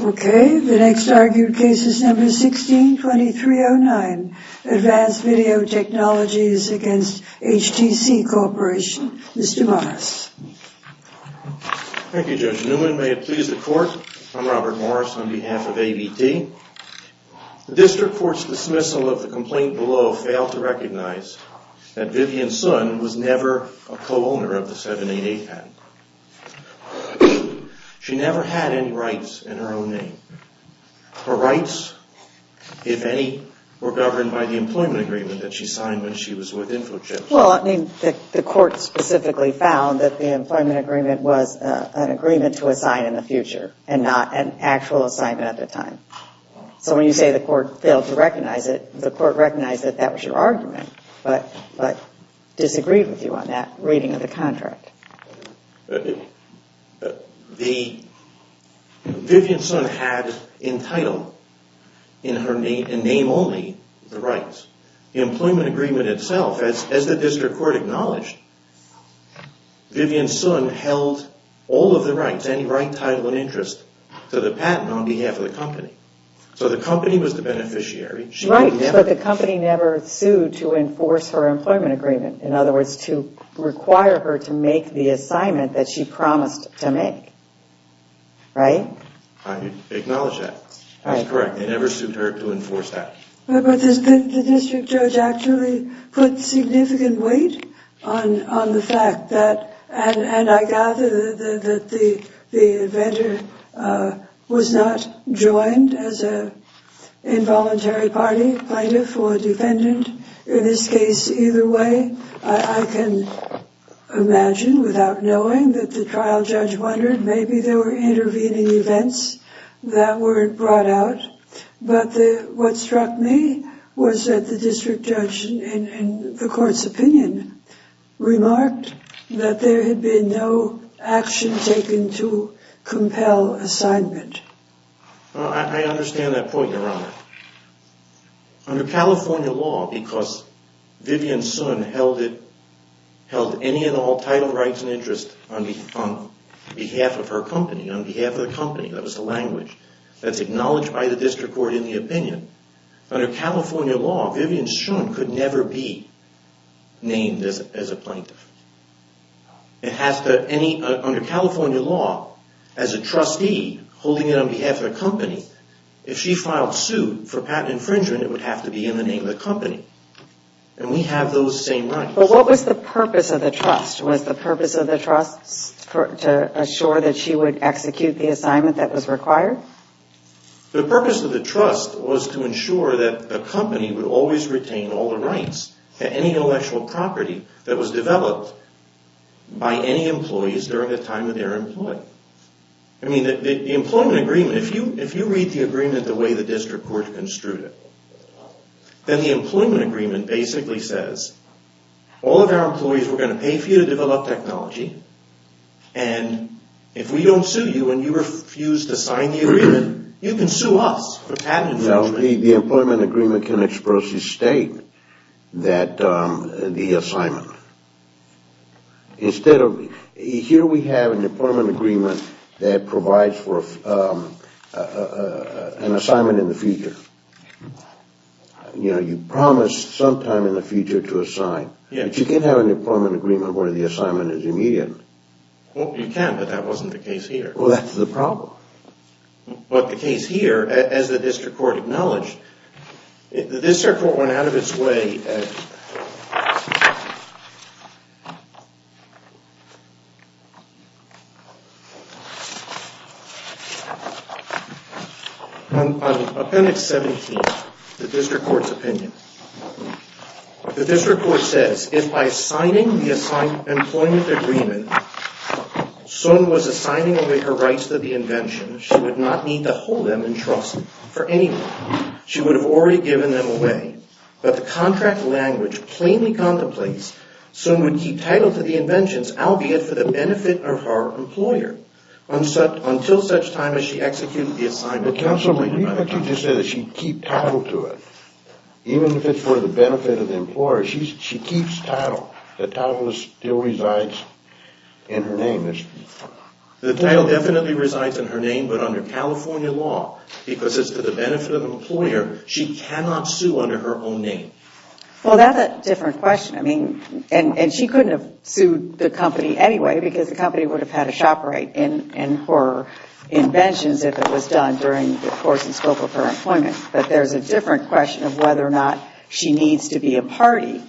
Okay, the next argued case is number 16-2309, Advanced Video Technologies against HTC Corporation. Mr. Morris. Thank you Judge Newman, may it please the court, I'm Robert Morris on behalf of ABT. District Court's dismissal of the complaint below failed to recognize that Vivian's son was never a co-owner of the 788 patent. She never had any rights in her own name. Her rights, if any, were governed by the employment agreement that she signed when she was with InfoJet. Well, I mean, the court specifically found that the employment agreement was an agreement to assign in the future and not an actual assignment at the time. So when you say the court failed to recognize it, the court recognized that that was your argument, but disagreed with you on that reading of the contract. Vivian's son had entitled, in her name only, the rights. The employment agreement itself, as the District Court acknowledged, Vivian's son held all of the rights, any right, title, and interest to the patent on behalf of the company. So the company was the beneficiary. Right, but the company never sued to enforce her employment agreement. In other words, to require her to make the assignment that she promised to make. Right? I acknowledge that. That's correct. They never sued her to enforce that. But the district judge actually put significant weight on the fact that, and I gather that the inventor was not joined as an involuntary party, plaintiff or defendant. In this case, either way, I can imagine without knowing that the trial judge wondered, maybe there were intervening events that were brought out. But what struck me was that the district judge, in the court's opinion, remarked that there had been no action taken to compel assignment. I understand that point, Your Honor. Under California law, because Vivian's son held any and all title, rights, and interest on behalf of her company, on behalf of the company. That was the language that's acknowledged by the District Court in the opinion. Under California law, Vivian's son could never be named as a plaintiff. Under California law, as a trustee holding it on behalf of the company, if she filed suit for patent infringement, it would have to be in the name of the company. And we have those same rights. But what was the purpose of the trust? Was the purpose of the trust to assure that she would execute the assignment that was required? The purpose of the trust was to ensure that the company would always retain all the rights to any intellectual property that was developed by any employees during the time that they were employed. I mean, the employment agreement, if you read the agreement the way the District Court construed it, then the employment agreement basically says, all of our employees, we're going to pay for you to develop technology, and if we don't sue you and you refuse to sign the agreement, you can sue us for patent infringement. No, the employment agreement can expressly state the assignment. Here we have an employment agreement that provides for an assignment in the future. You know, you promised sometime in the future to assign, but you can't have an employment agreement where the assignment is immediate. Well, you can, but that wasn't the case here. Well, that's the problem. But the case here, as the District Court acknowledged, the District Court went out of its way. On Appendix 17, the District Court's opinion. The District Court says, if by signing the employment agreement, Sun was assigning away her rights to the invention, she would not need to hold them in trust for anyone. She would have already given them away, but the contract language plainly contemplates Sun would keep title to the inventions, albeit for the benefit of her employer, until such time as she executed the assignment. But Counsel, what about if she just said she'd keep title to it, even if it's for the benefit of the employer? She keeps title. The title still resides in her name. The title definitely resides in her name, but under California law, because it's for the benefit of the employer, she cannot sue under her own name. Well, that's a different question. I mean, and she couldn't have sued the company anyway, because the company would have had a shopper right in her inventions if it was done during the course and scope of her employment. But there's a different question of whether or not she needs to be a party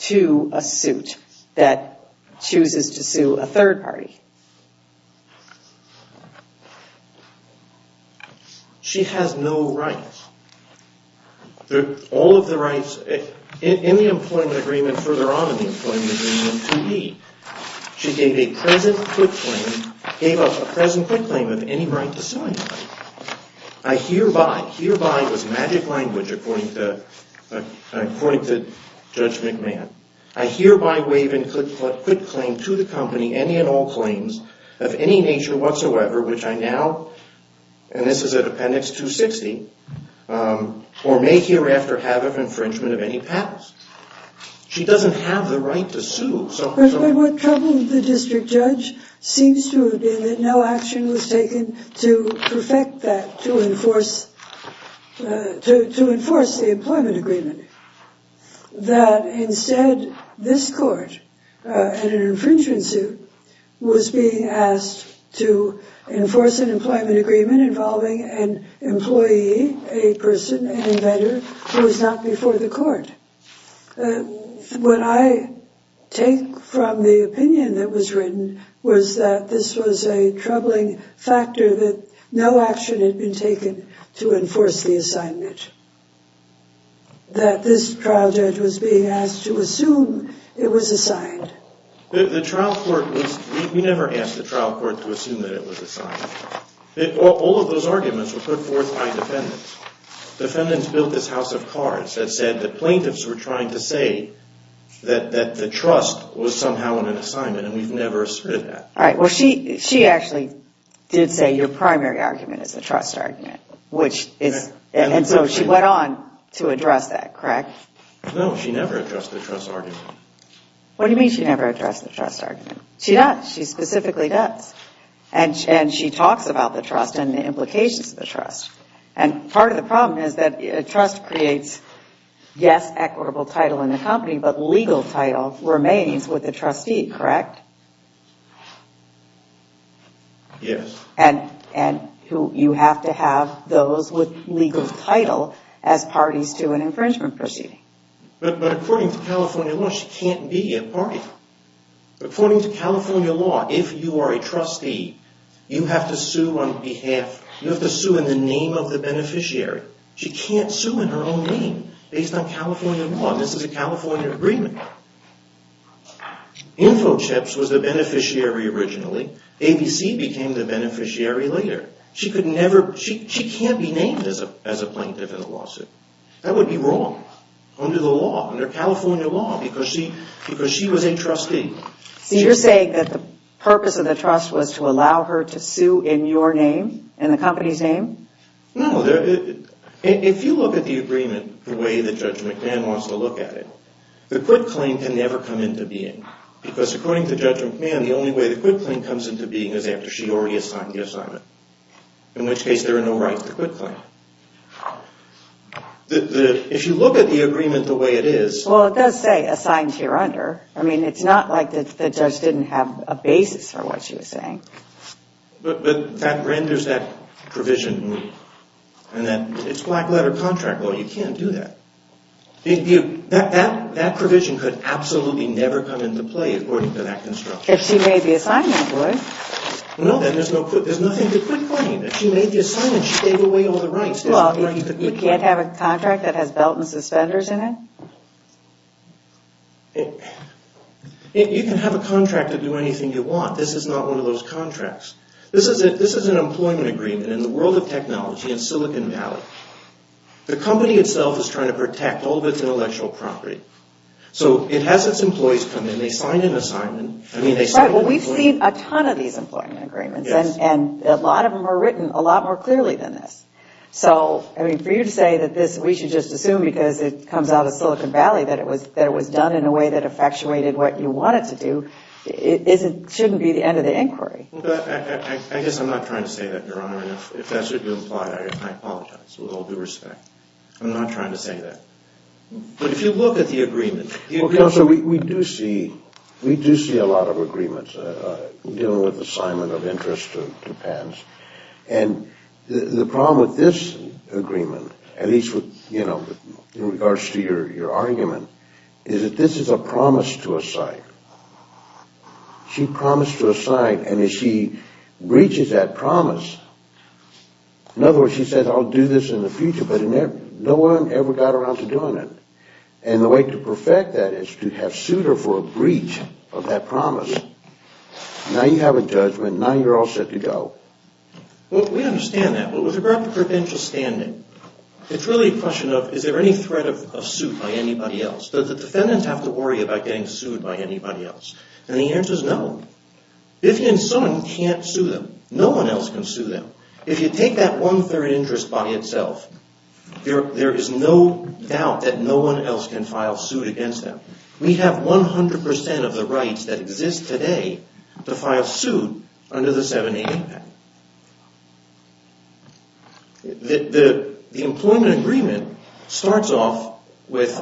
to a suit that chooses to sue a third party. She has no rights. All of the rights, in the employment agreement, further on in the employment agreement, 2E, she gave a present quit claim of any right to sue anybody. I hereby, hereby was magic language according to Judge McMahon, I hereby waive and quit claim to the company any and all claims of any nature whatsoever, which I now, and this is a appendix 260, or may hereafter have infringement of any powers. She doesn't have the right to sue. But what troubled the district judge seems to have been that no action was taken to perfect that, to enforce, to enforce the employment agreement. That instead, this court and an infringement suit was being asked to enforce an employment agreement involving an employee, a person, an inventor, who is not before the court. What I take from the opinion that was written was that this was a troubling factor that no action had been taken to enforce the assignment. That this trial judge was being asked to assume it was assigned. The trial court was, we never asked the trial court to assume that it was assigned. All of those arguments were put forth by defendants. Defendants built this house of cards that said that plaintiffs were trying to say that the trust was somehow on an assignment, and we've never asserted that. All right, well, she actually did say your primary argument is the trust argument, which is, and so she went on to address that, correct? No, she never addressed the trust argument. What do you mean she never addressed the trust argument? She does, she specifically does. And she talks about the trust and the implications of the trust. And part of the problem is that a trust creates, yes, equitable title in the company, but legal title remains with the trustee, correct? Yes. And you have to have those with legal title as parties to an infringement proceeding. But according to California law, she can't be a party. According to California law, if you are a trustee, you have to sue on behalf, you have to sue in the name of the beneficiary. She can't sue in her own name based on California law. This is a California agreement. Info Chips was the beneficiary originally. ABC became the beneficiary later. She could never, she can't be named as a plaintiff in a lawsuit. That would be wrong under the law, under California law, because she was a trustee. So you're saying that the purpose of the trust was to allow her to sue in your name, in the company's name? No. If you look at the agreement the way that Judge McMahon wants to look at it, the quit claim can never come into being. Because according to Judge McMahon, the only way the quit claim comes into being is after she already has signed gifts on it. In which case, there are no rights to quit claim. If you look at the agreement the way it is... Well, it does say, assigned here under. I mean, it's not like the judge didn't have a basis for what she was saying. But that renders that provision, and that it's black letter contract law. You can't do that. That provision could absolutely never come into play according to that construction. If she made the assignment, it would. No, then there's nothing to quit claim. If she made the assignment, she gave away all the rights. Well, you can't have a contract that has belt and suspenders in it? You can have a contract to do anything you want. This is not one of those contracts. This is an employment agreement in the world of technology, in Silicon Valley. The company itself is trying to protect all of its intellectual property. So it has its employees come in. They sign an assignment. Right, well, we've seen a ton of these employment agreements. And a lot of them are written a lot more clearly than this. So, I mean, for you to say that this, we should just assume because it comes out of Silicon Valley, that it was done in a way that effectuated what you want it to do, shouldn't be the end of the inquiry. I guess I'm not trying to say that, Your Honor. If that's what you implied, I apologize with all due respect. I'm not trying to say that. But if you look at the agreement... Well, Counselor, we do see a lot of agreements dealing with assignment of interest to patents. And the problem with this agreement, at least in regards to your argument, is that this is a promise to a site. She promised to a site, and as she breaches that promise, in other words, she says, I'll do this in the future. But no one ever got around to doing it. And the way to perfect that is to have sued her for a breach of that promise. Now you have a judgment. Now you're all set to go. Well, we understand that. But with regard to provincial standing, it's really a question of, is there any threat of suit by anybody else? Do the defendants have to worry about getting sued by anybody else? And the answer is no. If someone can't sue them, no one else can sue them. If you take that one-third interest by itself, there is no doubt that no one else can file suit against them. We have 100% of the rights that exist today to file suit under the 788 patent. The employment agreement starts off with,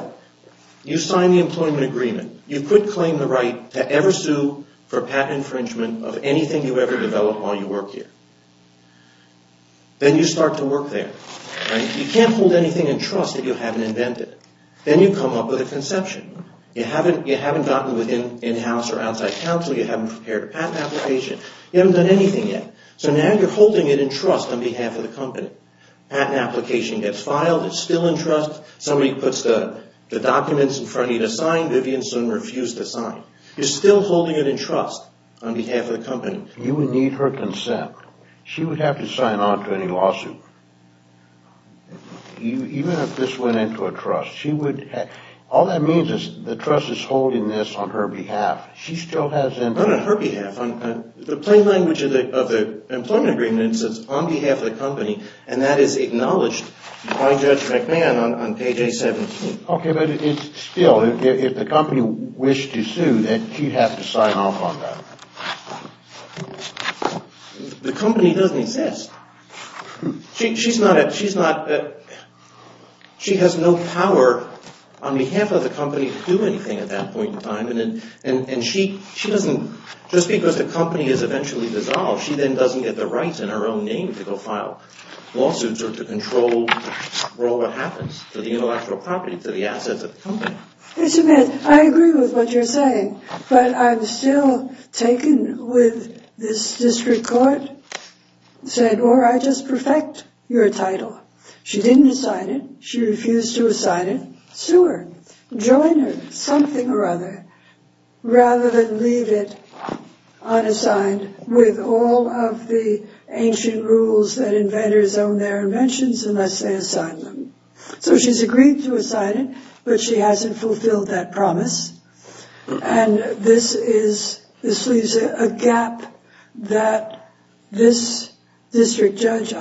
you sign the employment agreement. You could claim the right to ever sue for patent infringement if you have a conception of anything you ever develop while you work here. Then you start to work there. You can't hold anything in trust that you haven't invented. Then you come up with a conception. You haven't gotten within in-house or outside counsel. You haven't prepared a patent application. You haven't done anything yet. So now you're holding it in trust on behalf of the company. Patent application gets filed. It's still in trust. Somebody puts the documents in front of you to sign. Vivian soon refused to sign. You're still holding it in trust on behalf of the company. You would need her consent. She would have to sign on to any lawsuit, even if this went into a trust. All that means is the trust is holding this on her behalf. No, no, her behalf. The plain language of the employment agreement says on behalf of the company, and that is acknowledged by Judge McMahon on page 817. Okay, but it's still, if the company wished to sue, then she'd have to sign off on that. The company doesn't exist. She's not, she has no power on behalf of the company to do anything at that point in time, and she doesn't, just because the company is eventually dissolved, she then doesn't get the rights in her own name to go file lawsuits or to control what happens to the intellectual property, to the assets of the company. Mr. McMahon, I agree with what you're saying, but I'm still taken with this district court said, or I just perfect your title. She didn't sign it. She refused to sign it. Sue her. Join her, something or other, rather than leave it unassigned with all of the ancient rules that inventors own their inventions unless they assign them. So she's agreed to assign it, but she hasn't fulfilled that promise, and this is, this leaves a gap that this district judge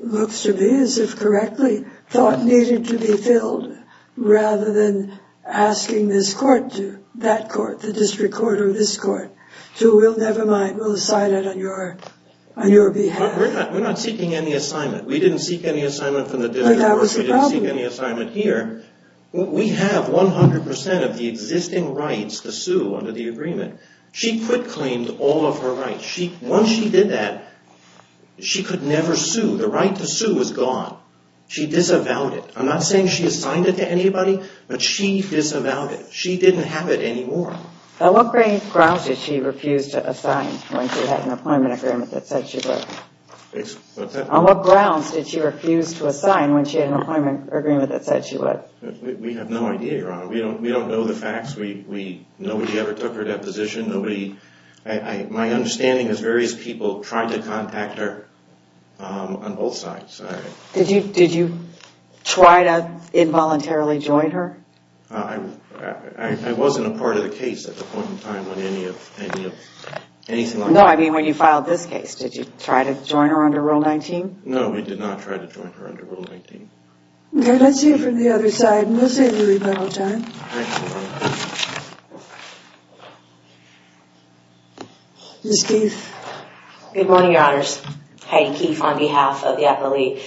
looks to be, as if correctly, thought needed to be filled rather than asking this court to, that court, the district court or this court to, we'll never mind, we'll assign it on your behalf. We're not seeking any assignment. We didn't seek any assignment from the district court. That was the problem. We didn't seek any assignment here. We have 100% of the existing rights to sue under the agreement. She quit-claimed all of her rights. Once she did that, she could never sue. The right to sue was gone. She disavowed it. I'm not saying she assigned it to anybody, but she disavowed it. She didn't have it anymore. On what grounds did she refuse to assign when she had an appointment agreement that said she would? On what grounds did she refuse to assign when she had an appointment agreement that said she would? We have no idea, Your Honor. We don't know the facts. Nobody ever took her deposition. My understanding is various people tried to contact her on both sides. Did you try to involuntarily join her? I wasn't a part of the case at the point in time when any of anything like that happened. No, I mean when you filed this case. Did you try to join her under Rule 19? No, we did not try to join her under Rule 19. Okay, let's hear from the other side. We'll save the rebuttal time. Ms. Keefe. Good morning, Your Honors. Heidi Keefe on behalf of the appellee.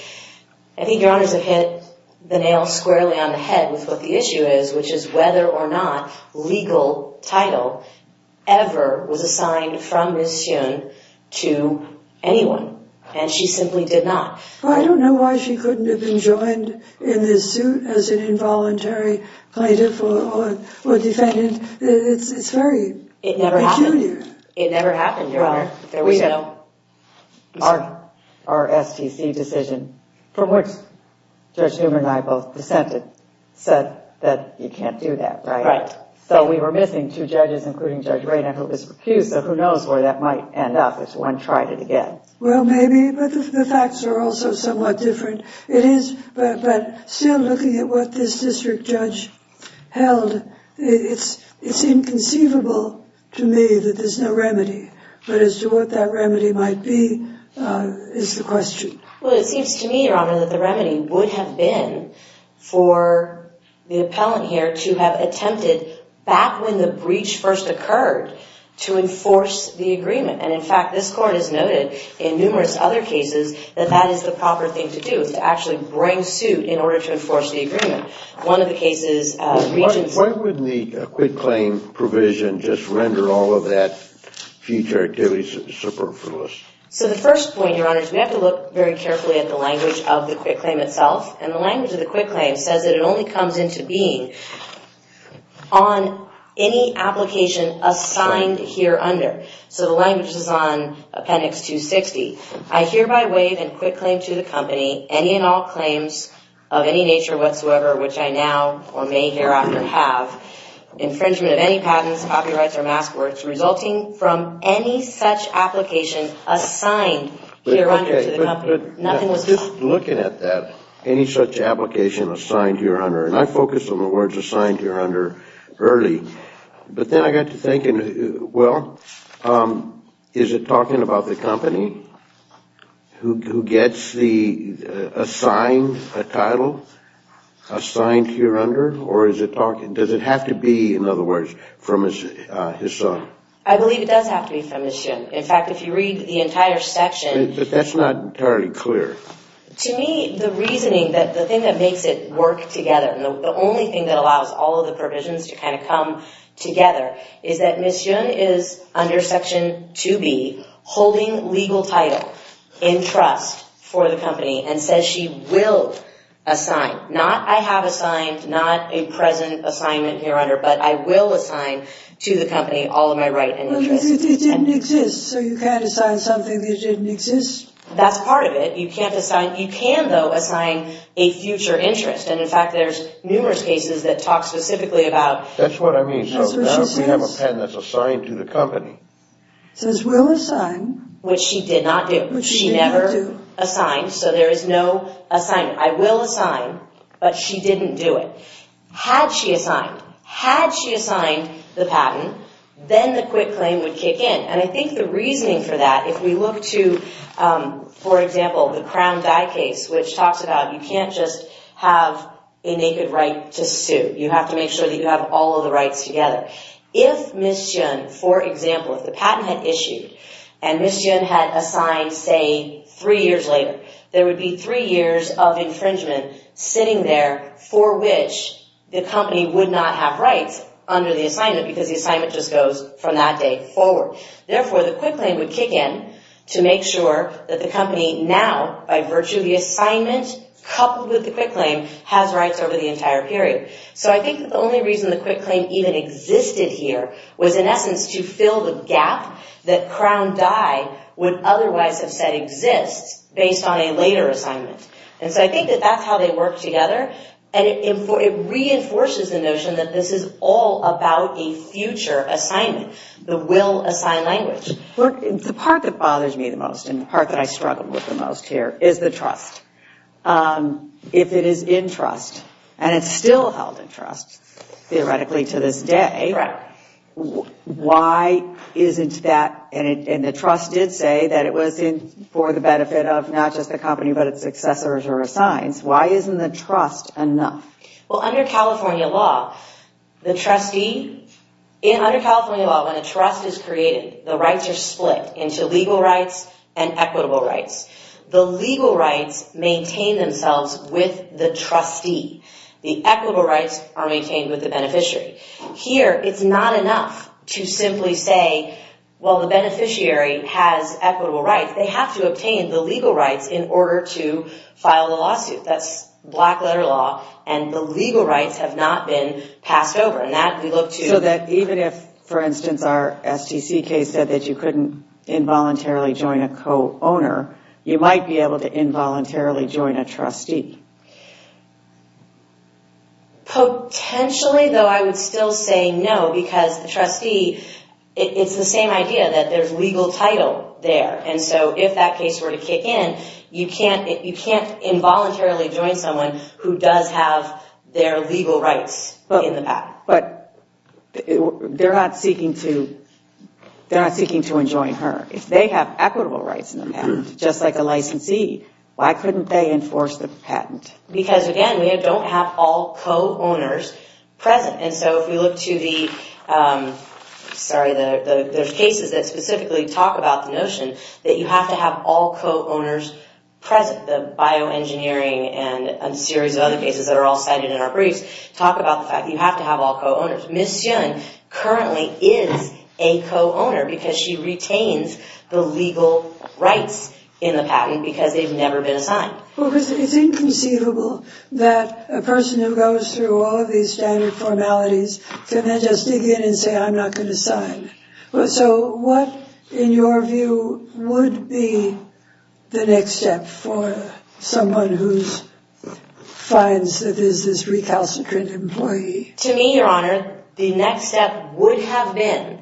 I think Your Honors have hit the nail squarely on the head with what the issue is, which is whether or not legal title ever was assigned from Ms. Hsun to anyone. And she simply did not. I don't know why she couldn't have been joined in this suit as an involuntary plaintiff or defendant. It never happened, Your Honor. Our STC decision, from which Judge Newman and I both dissented, said that you can't do that, right? Right. So we were missing two judges, including Judge Rayner, who was recused. So who knows where that might end up if someone tried it again. Well, maybe, but the facts are also somewhat different. It is, but still looking at what this district judge held, it's inconceivable to me that there's no remedy. But as to what that remedy might be is the question. Well, it seems to me, Your Honor, that the remedy would have been for the appellant here to have attempted, back when the breach first occurred, to enforce the agreement. And, in fact, this court has noted in numerous other cases that that is the proper thing to do, is to actually bring suit in order to enforce the agreement. One of the cases— Why wouldn't the quitclaim provision just render all of that future activities superfluous? So the first point, Your Honor, is we have to look very carefully at the language of the quitclaim itself. And the language of the quitclaim says that it only comes into being on any application assigned here under. So the language is on Appendix 260. I hereby waive and quitclaim to the company any and all claims of any nature whatsoever, which I now or may hereafter have infringement of any patents, copyrights, or mask works resulting from any such application assigned here under to the company. Nothing was— Just looking at that, any such application assigned here under, and I focused on the words assigned here under early, but then I got to thinking, well, is it talking about the company who gets the assigned title assigned here under, or does it have to be, in other words, from his son? I believe it does have to be from his son. In fact, if you read the entire section— But that's not entirely clear. To me, the reasoning, the thing that makes it work together, and the only thing that allows all of the provisions to kind of come together, is that Ms. Yun is under Section 2B, holding legal title in trust for the company, and says she will assign. Not I have assigned, not a present assignment here under, but I will assign to the company all of my right and interests. But it didn't exist, so you can't assign something that didn't exist? That's part of it. You can't assign—you can, though, assign a future interest. And, in fact, there's numerous cases that talk specifically about— That's what I mean. So now if we have a patent that's assigned to the company— Says we'll assign. Which she did not do. Which she never assigned, so there is no assignment. I will assign, but she didn't do it. Had she assigned, had she assigned the patent, then the quick claim would kick in. And I think the reasoning for that, if we look to, for example, the Crown Die case, which talks about you can't just have a naked right to sue. You have to make sure that you have all of the rights together. If Ms. Yun, for example, if the patent had issued, and Ms. Yun had assigned, say, three years later, there would be three years of infringement sitting there, for which the company would not have rights under the assignment because the assignment just goes from that day forward. Therefore, the quick claim would kick in to make sure that the company now, by virtue of the assignment, coupled with the quick claim, has rights over the entire period. So I think the only reason the quick claim even existed here was in essence to fill the gap that Crown Die would otherwise have said exists based on a later assignment. And so I think that that's how they work together, and it reinforces the notion that this is all about a future assignment, the will-assigned language. Well, the part that bothers me the most and the part that I struggle with the most here is the trust. If it is in trust, and it's still held in trust, theoretically, to this day, why isn't that, and the trust did say that it was for the benefit of not just the company but its successors or assigns, why isn't the trust enough? Well, under California law, when a trust is created, the rights are split into legal rights and equitable rights. The legal rights maintain themselves with the trustee. The equitable rights are maintained with the beneficiary. Here, it's not enough to simply say, well, the beneficiary has equitable rights. That's black-letter law, and the legal rights have not been passed over. So even if, for instance, our STC case said that you couldn't involuntarily join a co-owner, you might be able to involuntarily join a trustee. Potentially, though, I would still say no because the trustee, it's the same idea that there's legal title there. And so if that case were to kick in, you can't involuntarily join someone who does have their legal rights in the patent. But they're not seeking to enjoin her. If they have equitable rights in the patent, just like a licensee, why couldn't they enforce the patent? Because, again, we don't have all co-owners present. And so if we look to the, sorry, there's cases that specifically talk about the notion that you have to have all co-owners present. The bioengineering and a series of other cases that are all cited in our briefs talk about the fact that you have to have all co-owners. Ms. Yun currently is a co-owner because she retains the legal rights in the patent because they've never been assigned. It's inconceivable that a person who goes through all of these standard formalities can then just dig in and say, I'm not going to sign. So what, in your view, would be the next step for someone who finds that there's this recalcitrant employee? To me, Your Honor, the next step would have been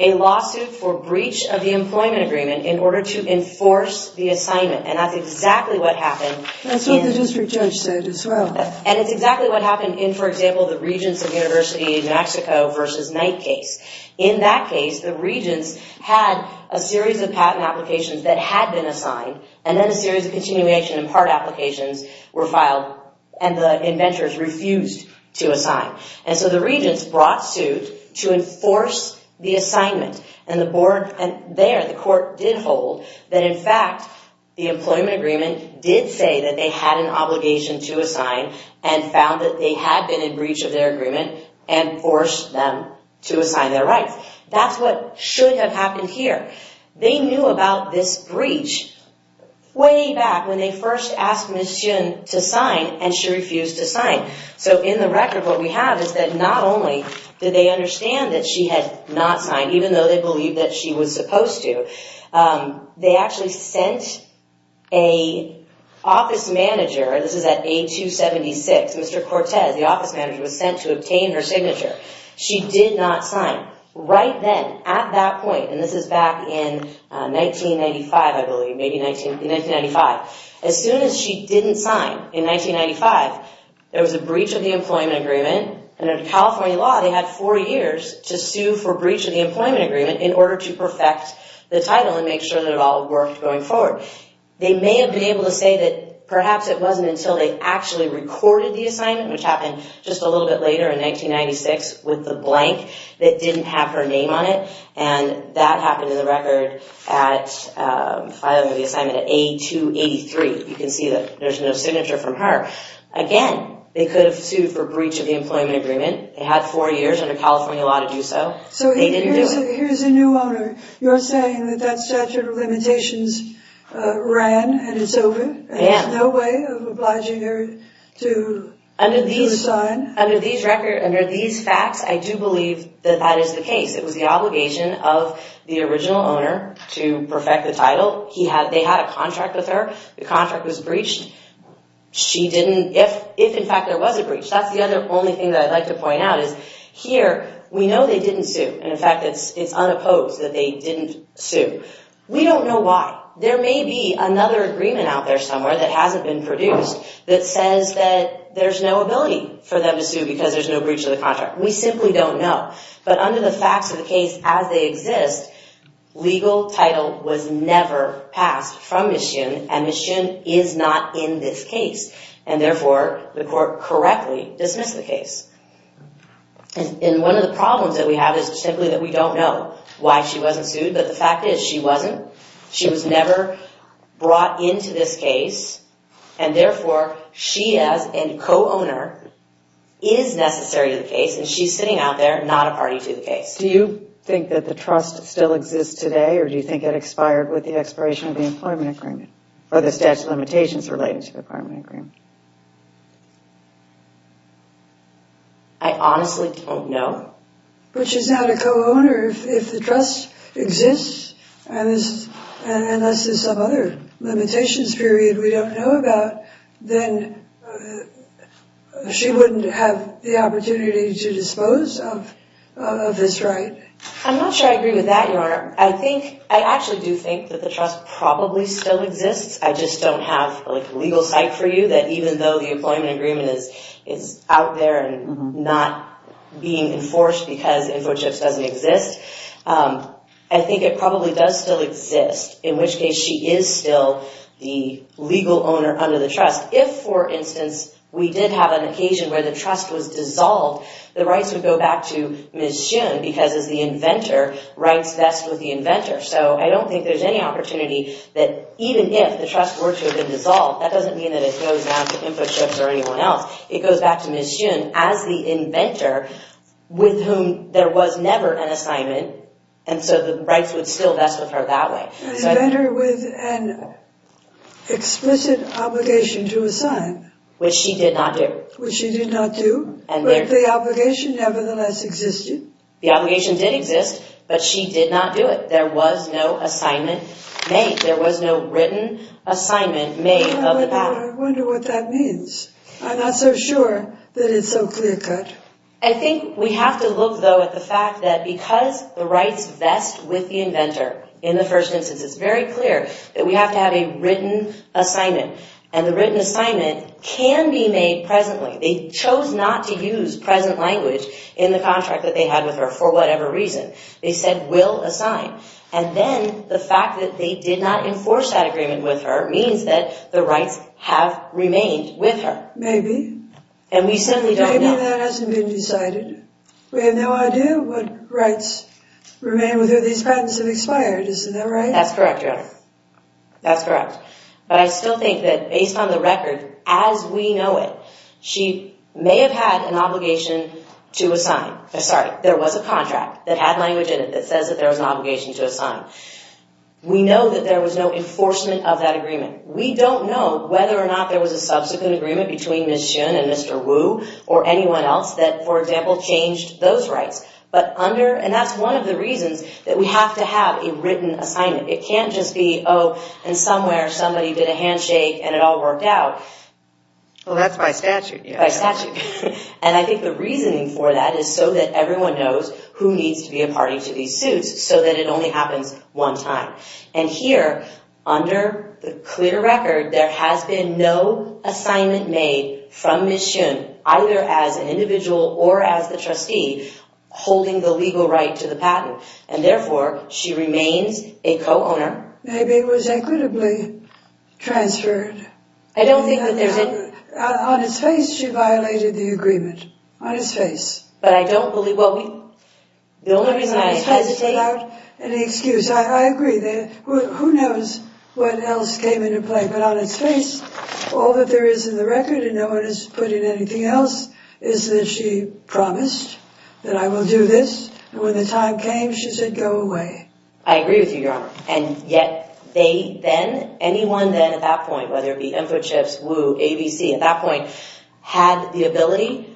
a lawsuit for breach of the employment agreement in order to enforce the assignment. And that's exactly what happened. That's what the district judge said as well. And it's exactly what happened in, for example, the Regents of University of Mexico versus Knight case. In that case, the regents had a series of patent applications that had been assigned, and then a series of continuation and part applications were filed, and the inventors refused to assign. And so the regents brought suit to enforce the assignment. And the board there, the court, did hold that, in fact, the employment agreement did say that they had an obligation to assign and found that they had been in breach of their agreement and forced them to assign their rights. That's what should have happened here. They knew about this breach way back when they first asked Ms. Chun to sign, and she refused to sign. So in the record, what we have is that not only did they understand that she had not signed, even though they believed that she was supposed to, they actually sent an office manager, this is at A276, Mr. Cortez, the office manager, was sent to obtain her signature. She did not sign. Right then, at that point, and this is back in 1995, I believe, maybe 1995, as soon as she didn't sign in 1995, there was a breach of the employment agreement, and under California law, they had four years to sue for breach of the employment agreement in order to perfect the title and make sure that it all worked going forward. They may have been able to say that perhaps it wasn't until they actually recorded the assignment, which happened just a little bit later in 1996 with the blank that didn't have her name on it, and that happened in the record at filing the assignment at A283. You can see that there's no signature from her. Again, they could have sued for breach of the employment agreement. They had four years under California law to do so. They didn't do it. So here's a new owner. You're saying that that statute of limitations ran and it's over and there's no way of obliging her to sign? Under these facts, I do believe that that is the case. It was the obligation of the original owner to perfect the title. They had a contract with her. The contract was breached. If, in fact, there was a breach, that's the other only thing that I'd like to point out is here, we know they didn't sue. In fact, it's unopposed that they didn't sue. We don't know why. There may be another agreement out there somewhere that hasn't been produced that says that there's no ability for them to sue because there's no breach of the contract. We simply don't know. But under the facts of the case as they exist, legal title was never passed from Ms. Shinn, and therefore the court correctly dismissed the case. And one of the problems that we have is simply that we don't know why she wasn't sued, but the fact is she wasn't. She was never brought into this case, and therefore she as a co-owner is necessary to the case, and she's sitting out there not a party to the case. Do you think that the trust still exists today, or do you think it expired with the expiration of the employment agreement or the statute of limitations related to the employment agreement? I honestly don't know. But she's not a co-owner. If the trust exists, and unless there's some other limitations period we don't know about, then she wouldn't have the opportunity to dispose of this right. I'm not sure I agree with that, Your Honor. I actually do think that the trust probably still exists. I just don't have a legal site for you that even though the employment agreement is out there and not being enforced because InfoChips doesn't exist, I think it probably does still exist, in which case she is still the legal owner under the trust. If, for instance, we did have an occasion where the trust was dissolved, the rights would go back to Ms. Shoon, because as the inventor, rights vest with the inventor. So I don't think there's any opportunity that even if the trust were to have been dissolved, that doesn't mean that it goes back to InfoChips or anyone else. It goes back to Ms. Shoon as the inventor with whom there was never an assignment, and so the rights would still vest with her that way. An inventor with an explicit obligation to assign. Which she did not do. Which she did not do, but the obligation nevertheless existed. The obligation did exist, but she did not do it. There was no assignment made. There was no written assignment made of the matter. I wonder what that means. I'm not so sure that it's so clear-cut. I think we have to look, though, at the fact that because the rights vest with the inventor, in the first instance it's very clear that we have to have a written assignment, and the written assignment can be made presently. They chose not to use present language in the contract that they had with her for whatever reason. They said, will assign. And then the fact that they did not enforce that agreement with her means that the rights have remained with her. Maybe. And we simply don't know. Maybe that hasn't been decided. We have no idea what rights remain with her. These patents have expired. Isn't that right? That's correct, Your Honor. That's correct. But I still think that based on the record, as we know it, she may have had an obligation to assign. Sorry, there was a contract that had language in it that says that there was an obligation to assign. We know that there was no enforcement of that agreement. We don't know whether or not there was a subsequent agreement between Ms. Shun and Mr. Wu or anyone else that, for example, changed those rights. And that's one of the reasons that we have to have a written assignment. It can't just be, oh, and somewhere somebody did a handshake and it all worked out. Well, that's by statute. By statute. And I think the reasoning for that is so that everyone knows who needs to be a party to these suits, so that it only happens one time. And here, under the clear record, there has been no assignment made from Ms. Shun, either as an individual or as the trustee, holding the legal right to the patent. And, therefore, she remains a co-owner. Maybe it was equitably transferred. I don't think that there's any— On its face, she violated the agreement. On its face. But I don't believe—well, the only reason I hesitate— Without any excuse. I agree. Who knows what else came into play? But on its face, all that there is in the record, and no one has put in anything else, is that she promised that I will do this. And when the time came, she said, go away. I agree with you, Your Honor. And yet they then—anyone then at that point, whether it be InfoChips, Woo, ABC, at that point, had the ability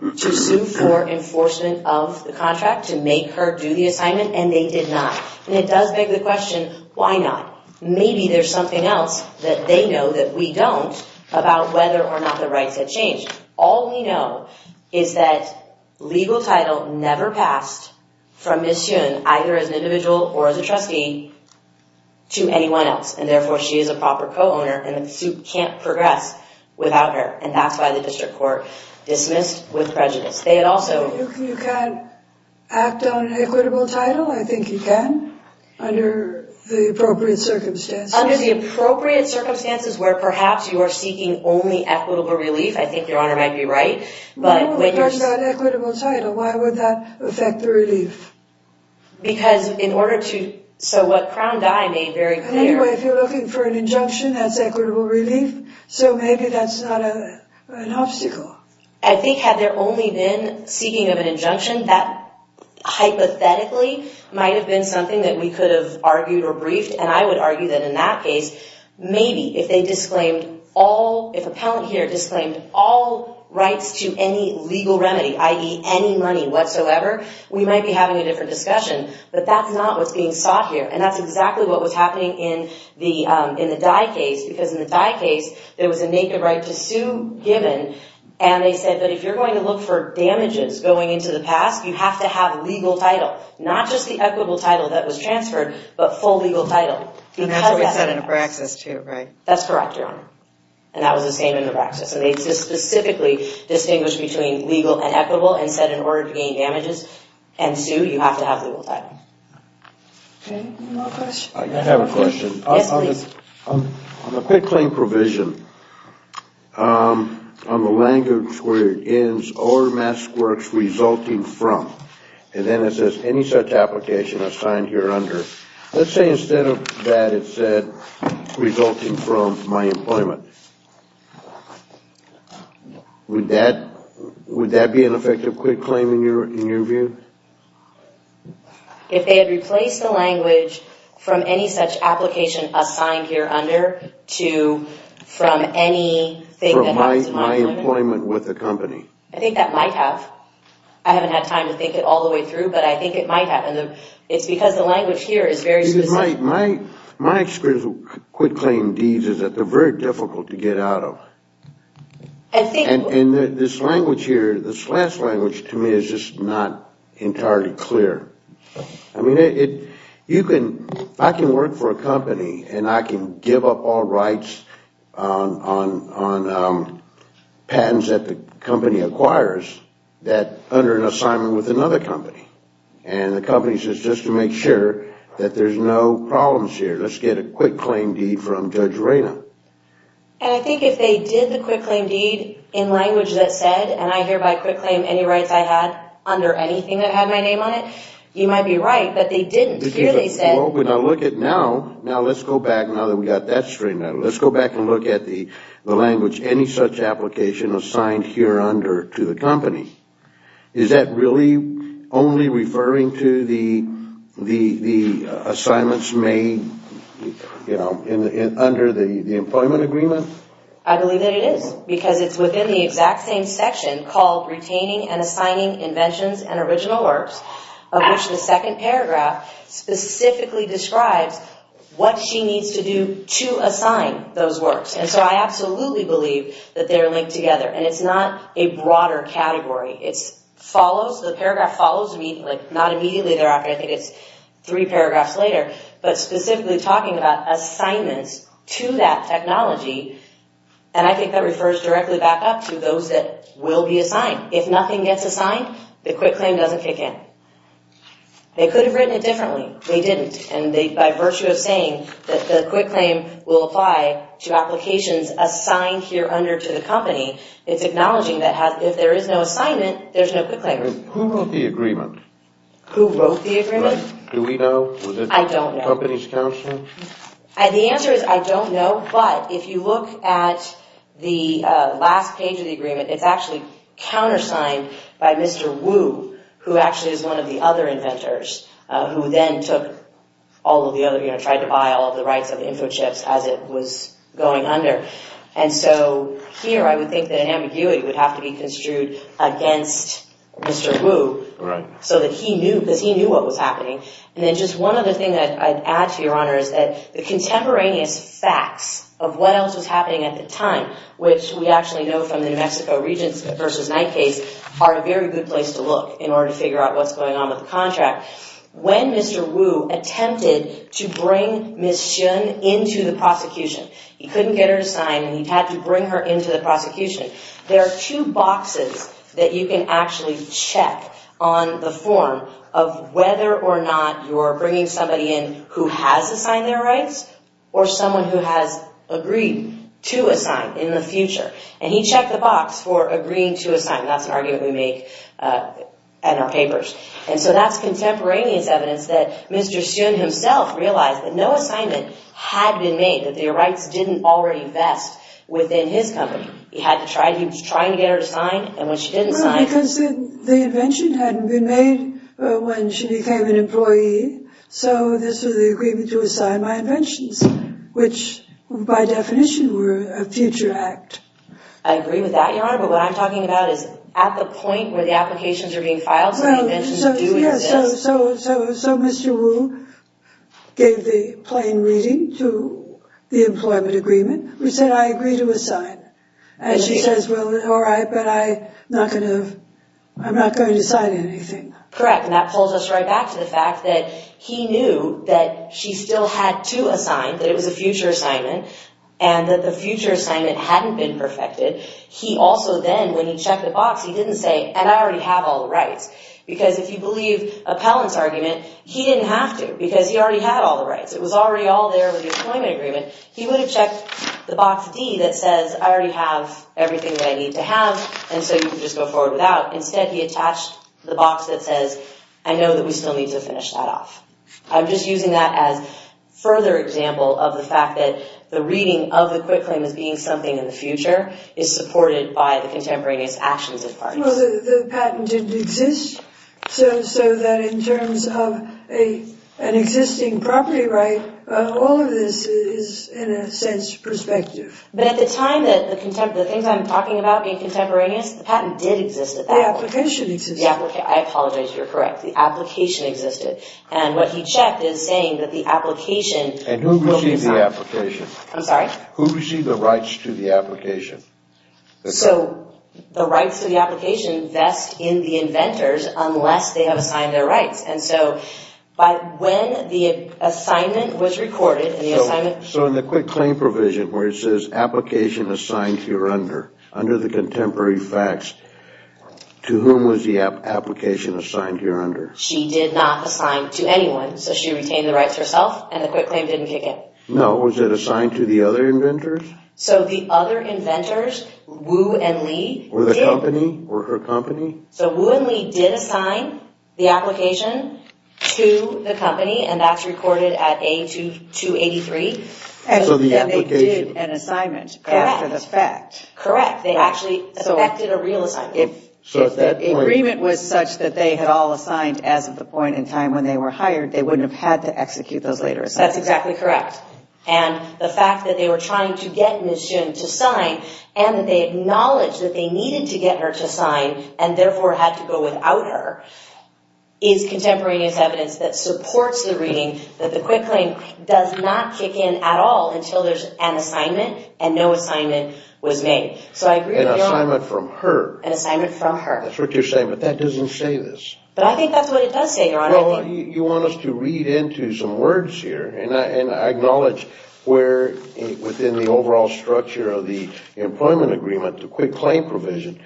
to sue for enforcement of the contract, to make her do the assignment, and they did not. And it does beg the question, why not? Maybe there's something else that they know that we don't about whether or not the rights had changed. All we know is that legal title never passed from Ms. Shun, either as an individual or as a trustee, to anyone else. And therefore, she is a proper co-owner, and the suit can't progress without her. And that's why the district court dismissed with prejudice. They had also— You can't act on an equitable title? I think you can, under the appropriate circumstances. Under the appropriate circumstances where perhaps you are seeking only equitable relief, I think Your Honor might be right. No, if there's not an equitable title, why would that affect the relief? Because in order to—so what Crown Dye made very clear— Anyway, if you're looking for an injunction, that's equitable relief, so maybe that's not an obstacle. I think had there only been seeking of an injunction, that hypothetically might have been something that we could have argued or briefed. And I would argue that in that case, maybe if they disclaimed all— to any legal remedy, i.e., any money whatsoever, we might be having a different discussion. But that's not what's being sought here, and that's exactly what was happening in the Dye case. Because in the Dye case, there was a naked right to sue given, and they said that if you're going to look for damages going into the past, you have to have legal title. Not just the equitable title that was transferred, but full legal title. And that's what they said in Nebraxus, too, right? That's correct, Your Honor, and that was the same in Nebraxus. And they specifically distinguished between legal and equitable, and said in order to gain damages and sue, you have to have legal title. Okay, any more questions? I have a question. Yes, please. On the pet claim provision, on the language where it ends, or mask works resulting from, and then it says any such application assigned here under, let's say instead of that, it said resulting from my employment. Would that be an effective quit claim in your view? If they had replaced the language from any such application assigned here under to from anything that happens to my employment. From my employment with the company. I think that might have. I haven't had time to think it all the way through, but I think it might have. And it's because the language here is very specific. My experience with quit claim deeds is that they're very difficult to get out of. And this language here, this last language to me is just not entirely clear. I mean, you can, I can work for a company, and I can give up all rights on patents that the company acquires under an assignment with another company. And the company says just to make sure that there's no problems here, let's get a quit claim deed from Judge Reyna. And I think if they did the quit claim deed in language that said, and I hereby quit claim any rights I had under anything that had my name on it, you might be right, but they didn't clearly say. Well, when I look at now, now let's go back, now that we got that straightened out, let's go back and look at the language any such application assigned here under to the company. Is that really only referring to the assignments made, you know, under the employment agreement? I believe that it is, because it's within the exact same section called retaining and assigning inventions and original works, of which the second paragraph specifically describes what she needs to do to assign those works. And so I absolutely believe that they're linked together. And it's not a broader category. It follows, the paragraph follows, not immediately thereafter, I think it's three paragraphs later, but specifically talking about assignments to that technology. And I think that refers directly back up to those that will be assigned. If nothing gets assigned, the quit claim doesn't kick in. They could have written it differently. They didn't. And by virtue of saying that the quit claim will apply to applications assigned here under to the company, it's acknowledging that if there is no assignment, there's no quit claim. Who wrote the agreement? Who wrote the agreement? Do we know? I don't know. Was it the company's counsel? The answer is I don't know. But if you look at the last page of the agreement, it's actually countersigned by Mr. Wu, who actually is one of the other inventors, who then took all of the other, you know, tried to buy all of the rights of InfoChips as it was going under. And so here I would think that an ambiguity would have to be construed against Mr. Wu so that he knew, because he knew what was happening. And then just one other thing that I'd add to your honor is that the contemporaneous facts of what else was happening at the time, which we actually know from the New Mexico Regents versus Knight case, are a very good place to look in order to figure out what's going on with the contract. When Mr. Wu attempted to bring Ms. Chun into the prosecution, he couldn't get her to sign and he had to bring her into the prosecution. There are two boxes that you can actually check on the form of whether or not you're bringing somebody in who has assigned their rights or someone who has agreed to assign in the future. And he checked the box for agreeing to assign. That's an argument we make in our papers. And so that's contemporaneous evidence that Mr. Sun himself realized that no assignment had been made, that their rights didn't already vest within his company. He was trying to get her to sign, and when she didn't sign... Well, because the invention hadn't been made when she became an employee, so this was the agreement to assign my inventions, which by definition were a future act. I agree with that, Your Honor, but what I'm talking about is at the point where the applications are being filed... So Mr. Wu gave the plain reading to the employment agreement. He said, I agree to assign. And she says, well, all right, but I'm not going to sign anything. Correct, and that pulls us right back to the fact that he knew that she still had to assign, that it was a future assignment, and that the future assignment hadn't been perfected. He also then, when he checked the box, he didn't say, and I already have all the rights, because if you believe Appellant's argument, he didn't have to, because he already had all the rights. It was already all there with the employment agreement. He would have checked the box D that says, I already have everything that I need to have, and so you can just go forward without. Instead, he attached the box that says, I know that we still need to finish that off. I'm just using that as further example of the fact that the reading of the quit claim as being something in the future is supported by the contemporaneous actions of parties. Well, the patent didn't exist, so that in terms of an existing property right, all of this is, in a sense, perspective. But at the time, the things I'm talking about being contemporaneous, the patent did exist at that point. The application existed. I apologize, you're correct. The application existed. And what he checked is saying that the application will be found. And who received the application? I'm sorry? Who received the rights to the application? So the rights to the application vest in the inventors unless they have assigned their rights. And so when the assignment was recorded and the assignment... So in the quit claim provision where it says, application assigned here under, under the contemporary facts, to whom was the application assigned here under? She did not assign to anyone. So she retained the rights herself, and the quit claim didn't kick in. No, was it assigned to the other inventors? So the other inventors, Wu and Li... Were the company? Were her company? So Wu and Li did assign the application to the company, and that's recorded at A-283. And so the application... And they did an assignment after the fact. Correct. Correct. They actually effected a real assignment. So at that point... If the agreement was such that they had all assigned as of the point in time when they were hired, they wouldn't have had to execute those later assignments. That's exactly correct. And the fact that they were trying to get Ms. Jin to sign, and that they acknowledged that they needed to get her to sign, and therefore had to go without her, is contemporaneous evidence that supports the reading that the quit claim does not kick in at all until there's an assignment and no assignment was made. So I agree with your... An assignment from her. An assignment from her. That's what you're saying, but that doesn't say this. But I think that's what it does say, Your Honor. Well, you want us to read into some words here, and I acknowledge we're within the overall structure of the employment agreement, the quit claim provision.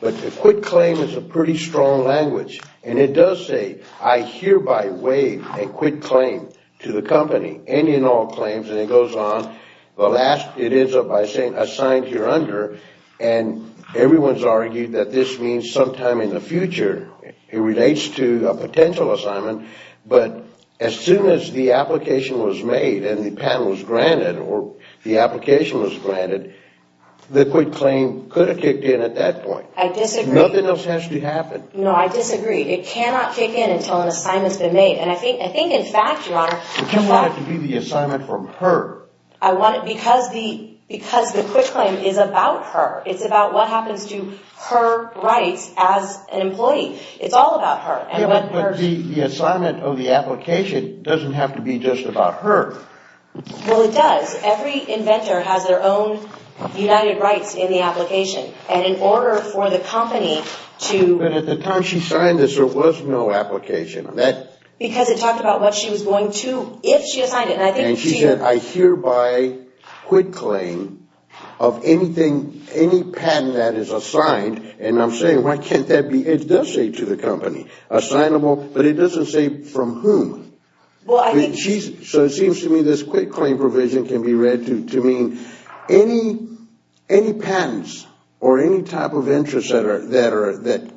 But the quit claim is a pretty strong language, and it does say, I hereby waive a quit claim to the company, any and all claims, and it goes on. The last, it ends up by saying, assigned here under, and everyone's argued that this means sometime in the future, it relates to a potential assignment, but as soon as the application was made, and the patent was granted, or the application was granted, the quit claim could have kicked in at that point. I disagree. Nothing else has to happen. No, I disagree. It cannot kick in until an assignment's been made, and I think in fact, Your Honor... But you want it to be the assignment from her. I want it because the quit claim is about her. It's about what happens to her rights as an employee. It's all about her. But the assignment of the application doesn't have to be just about her. Well, it does. Every inventor has their own united rights in the application, and in order for the company to... But at the time she signed this, there was no application. Because it talked about what she was going to, if she had signed it, and I think she... And she said, I hereby quit claim of anything, any patent that is assigned, and I'm saying, why can't that be... It does say to the company, assignable, but it doesn't say from whom. Well, I think... So it seems to me this quit claim provision can be read to mean any patents or any type of interest that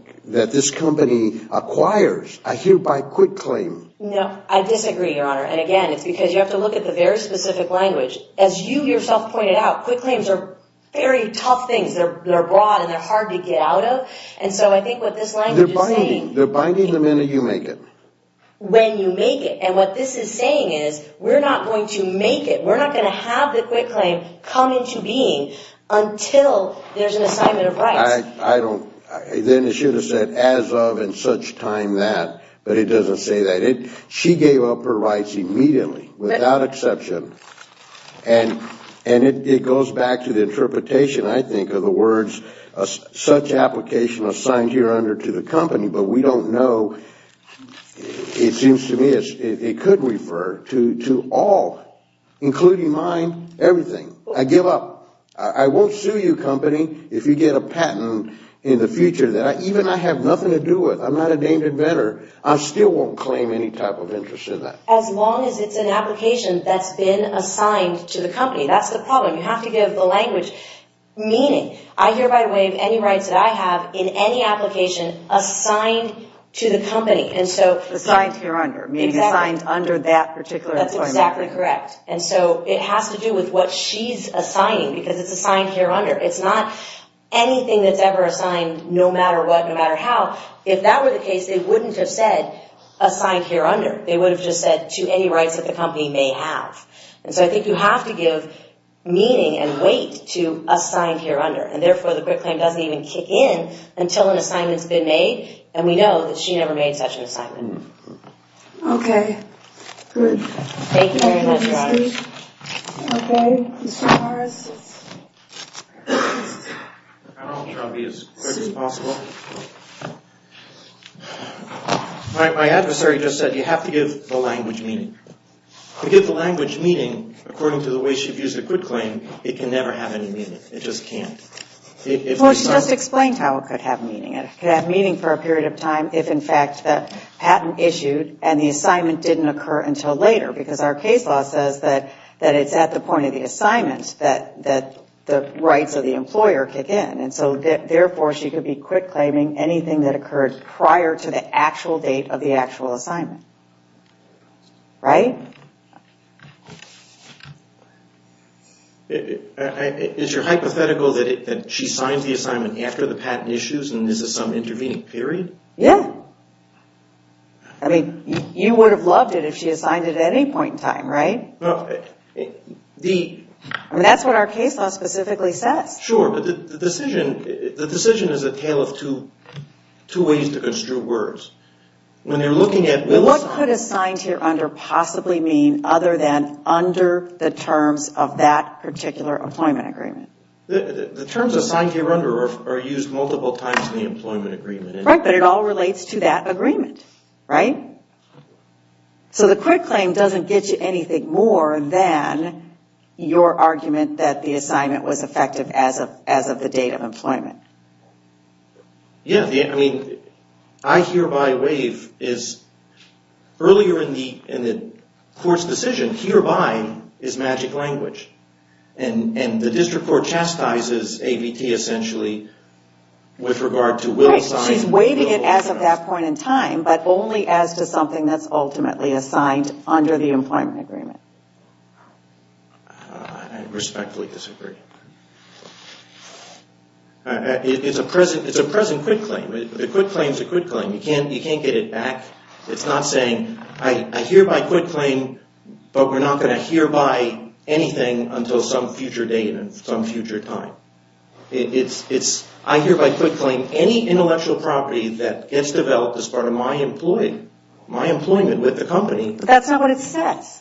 this company acquires. I hereby quit claim. No, I disagree, Your Honor, and again, it's because you have to look at the very specific language. As you yourself pointed out, quit claims are very tough things. They're broad and they're hard to get out of, and so I think what this language is saying... They're binding. They're binding the minute you make it. When you make it, and what this is saying is, we're not going to make it. We're not going to have the quit claim come into being until there's an assignment of rights. I don't... Then it should have said, as of and such time that, but it doesn't say that. She gave up her rights immediately, without exception, and it goes back to the interpretation, I think, of the words, such application assigned here under to the company, but we don't know. It seems to me it could refer to all, including mine, everything. I give up. I won't sue you, company, if you get a patent in the future that even I have nothing to do with. I'm not a named inventor. I still won't claim any type of interest in that. As long as it's an application that's been assigned to the company. That's the problem. You have to give the language meaning. I hereby waive any rights that I have in any application assigned to the company, and so... Assigned here under, meaning assigned under that particular... That's exactly correct, and so it has to do with what she's assigning because it's assigned here under. It's not anything that's ever assigned, no matter what, no matter how. If that were the case, they wouldn't have said assigned here under. They would have just said to any rights that the company may have, and so I think you have to give meaning and weight to assigned here under, and therefore the quit claim doesn't even kick in until an assignment's been made, and we know that she never made such an assignment. Okay. Good. Thank you very much, guys. Okay. Mr. Morris. I'll try to be as quick as possible. My adversary just said you have to give the language meaning. To give the language meaning, according to the way she views the quit claim, it can never have any meaning. It just can't. Well, she just explained how it could have meaning. It could have meaning for a period of time if, in fact, the patent issued and the assignment didn't occur until later because our case law says that it's at the point of the assignment that the rights of the employer kick in, and so therefore she could be quit claiming anything that occurred prior to the actual date of the actual assignment. Right? Okay. Is your hypothetical that she signs the assignment after the patent issues and this is some intervening period? Yeah. I mean, you would have loved it if she had signed it at any point in time, right? Well, the... I mean, that's what our case law specifically says. Sure, but the decision... The decision is a tale of two ways to construe words. When you're looking at... What could assigned here under possibly mean other than under the terms of that particular employment agreement? The terms assigned here under are used multiple times in the employment agreement. Right, but it all relates to that agreement, right? So the quit claim doesn't get you anything more than your argument that the assignment was effective as of the date of employment. Yeah, I mean, I hereby waive is... Earlier in the court's decision, hereby is magic language. And the district court chastises AVT essentially with regard to will assign... Right, so she's waiving it as of that point in time, but only as to something that's ultimately assigned under the employment agreement. I respectfully disagree. It's a present quit claim. The quit claim's a quit claim. You can't get it back. It's not saying, I hereby quit claim, but we're not going to hereby anything until some future date and some future time. I hereby quit claim any intellectual property that gets developed as part of my employment with the company. But that's not what it says.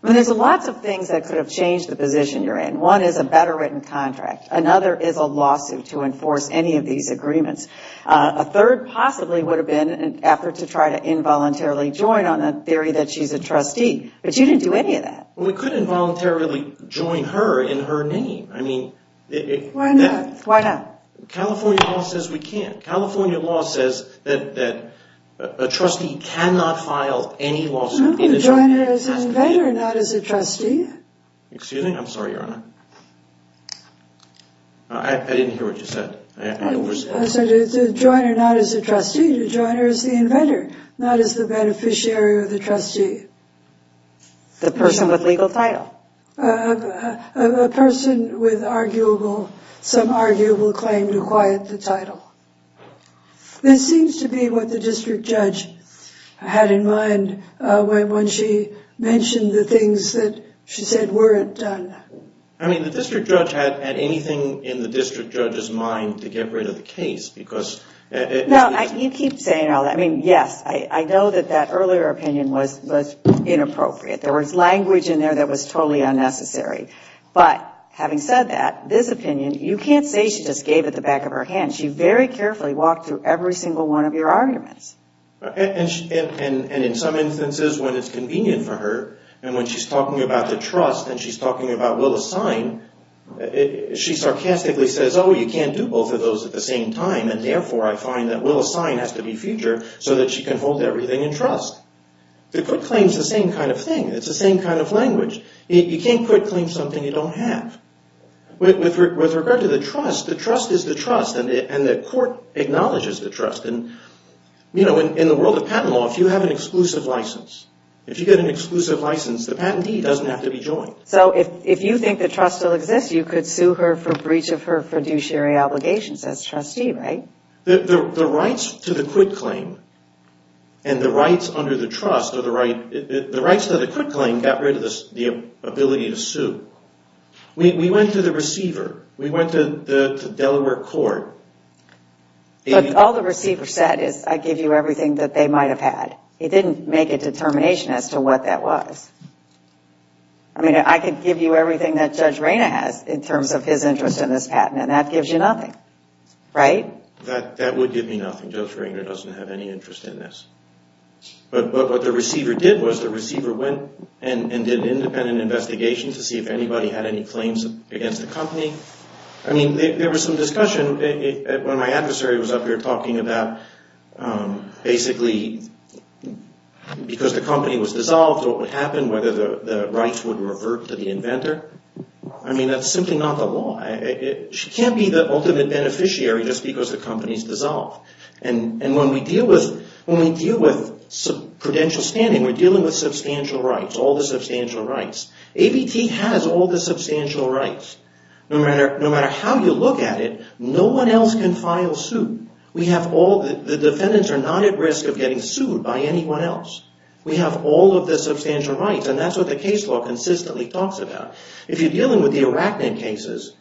There's lots of things that could have changed the position you're in. One is a better written contract. Another is a lawsuit to enforce any of these agreements. A third possibly would have been an effort to try to involuntarily join on a theory that she's a trustee. But you didn't do any of that. Well, we couldn't involuntarily join her in her name. I mean... Why not? Why not? California law says we can't. California law says that a trustee cannot file any lawsuit... You could join her as an inventor, not as a trustee. Excuse me? I'm sorry, Your Honor. I didn't hear what you said. I said to join her not as a trustee, to join her as the inventor, not as the beneficiary or the trustee. The person with legal title. A person with arguable... some arguable claim to quiet the title. This seems to be what the district judge had in mind when she mentioned the things that she said weren't done. I mean, the district judge had anything in the district judge's mind to get rid of the case because... No, you keep saying all that. I mean, yes, I know that that earlier opinion was inappropriate. There was language in there that was totally unnecessary. But having said that, this opinion, you can't say she just gave it at the back of her hand. She very carefully walked through every single one of your arguments. And in some instances when it's convenient for her, and when she's talking about the trust and she's talking about will assign, she sarcastically says, oh, you can't do both of those at the same time, and therefore I find that will assign has to be future so that she can hold everything in trust. The quit claim is the same kind of thing. It's the same kind of language. You can't quit claim something you don't have. With regard to the trust, the trust is the trust, and the court acknowledges the trust. In the world of patent law, if you have an exclusive license, if you get an exclusive license, the patentee doesn't have to be joined. So if you think the trust still exists, you could sue her for breach of her fiduciary obligations as trustee, right? The rights to the quit claim and the rights under the trust are the right... The rights to the quit claim got rid of the ability to sue. We went to the receiver. We went to Delaware court. All the receiver said is I give you everything that they might have had. It didn't make a determination as to what that was. I mean, I could give you everything that Judge Rayner has in terms of his interest in this patent, and that gives you nothing, right? That would give me nothing. Judge Rayner doesn't have any interest in this. But what the receiver did was the receiver went and did an independent investigation to see if anybody had any claims against the company. I mean, there was some discussion. One of my adversary was up here talking about basically because the company was dissolved, what would happen, whether the rights would revert to the inventor. I mean, that's simply not the law. She can't be the ultimate beneficiary just because the company is dissolved. And when we deal with credential standing, we're dealing with substantial rights, all the substantial rights. ABT has all the substantial rights. No matter how you look at it, no one else can file suit. The defendants are not at risk of getting sued by anyone else. We have all of the substantial rights. And that's what the case law consistently talks about. If you're dealing with the Arachnid cases,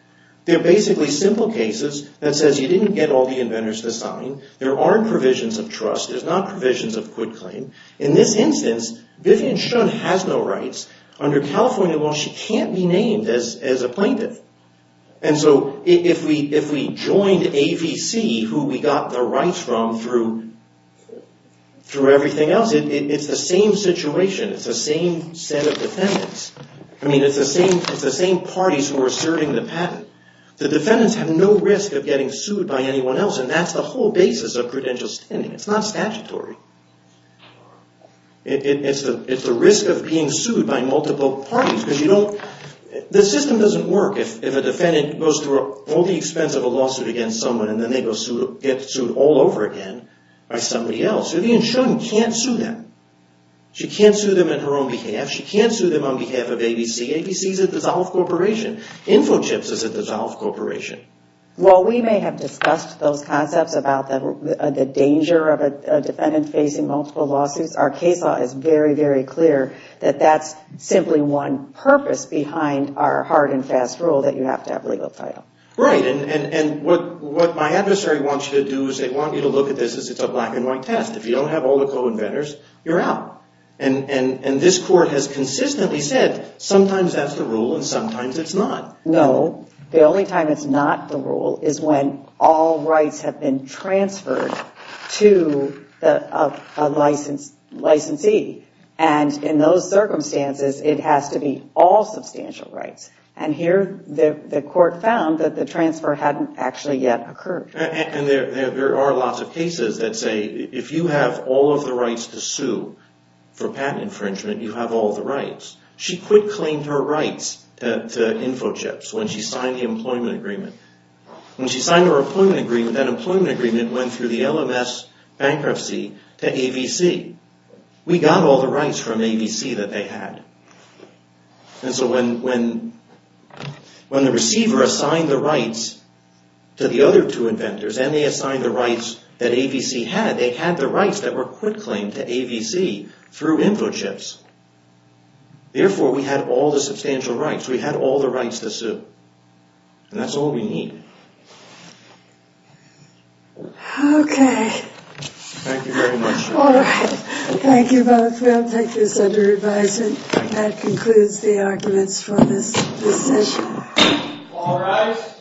they're basically simple cases that says you didn't get all the inventors to sign. There aren't provisions of trust. There's not provisions of quid claim. In this instance, Vivian Shun has no rights. Under California law, she can't be named as a plaintiff. And so if we joined AVC, who we got the rights from through everything else, it's the same situation. It's the same set of defendants. I mean, it's the same parties who are serving the patent. The defendants have no risk of getting sued by anyone else. And that's the whole basis of credential standing. It's not statutory. It's the risk of being sued by multiple parties because you don't... The system doesn't work if a defendant goes through all the expense of a lawsuit against someone and then they get sued all over again by somebody else. Vivian Shun can't sue them. She can't sue them on her own behalf. She can't sue them on behalf of AVC. AVC is a dissolved corporation. Info Chips is a dissolved corporation. Well, we may have discussed those concepts about the danger of a defendant facing multiple lawsuits. Our case law is very, very clear that that's simply one purpose behind our hard and fast rule that you have to have legal title. Right, and what my adversary wants you to do is they want you to look at this as it's a black and white test. If you don't have all the co-inventors, you're out. And this court has consistently said sometimes that's the rule and sometimes it's not. No, the only time it's not the rule is when all rights have been transferred to a licensee. And in those circumstances it has to be all substantial rights. And here the court found that the transfer hadn't actually yet occurred. And there are lots of cases that say if you have all of the rights to sue for patent infringement, you have all the rights. She quit-claimed her rights to InfoChips when she signed the employment agreement. When she signed her employment agreement, that employment agreement went through the LMS bankruptcy to AVC. We got all the rights from AVC that they had. And so when the receiver assigned the rights to the other two inventors and they assigned the rights to the inventors that AVC had, they had the rights that were quit-claimed to AVC through InfoChips. Therefore we had all the substantial rights. We had all the rights to sue. And that's all we need. Okay. Thank you very much. Alright. Thank you both. We'll take this under advisement. That concludes the arguments for this session. Alright.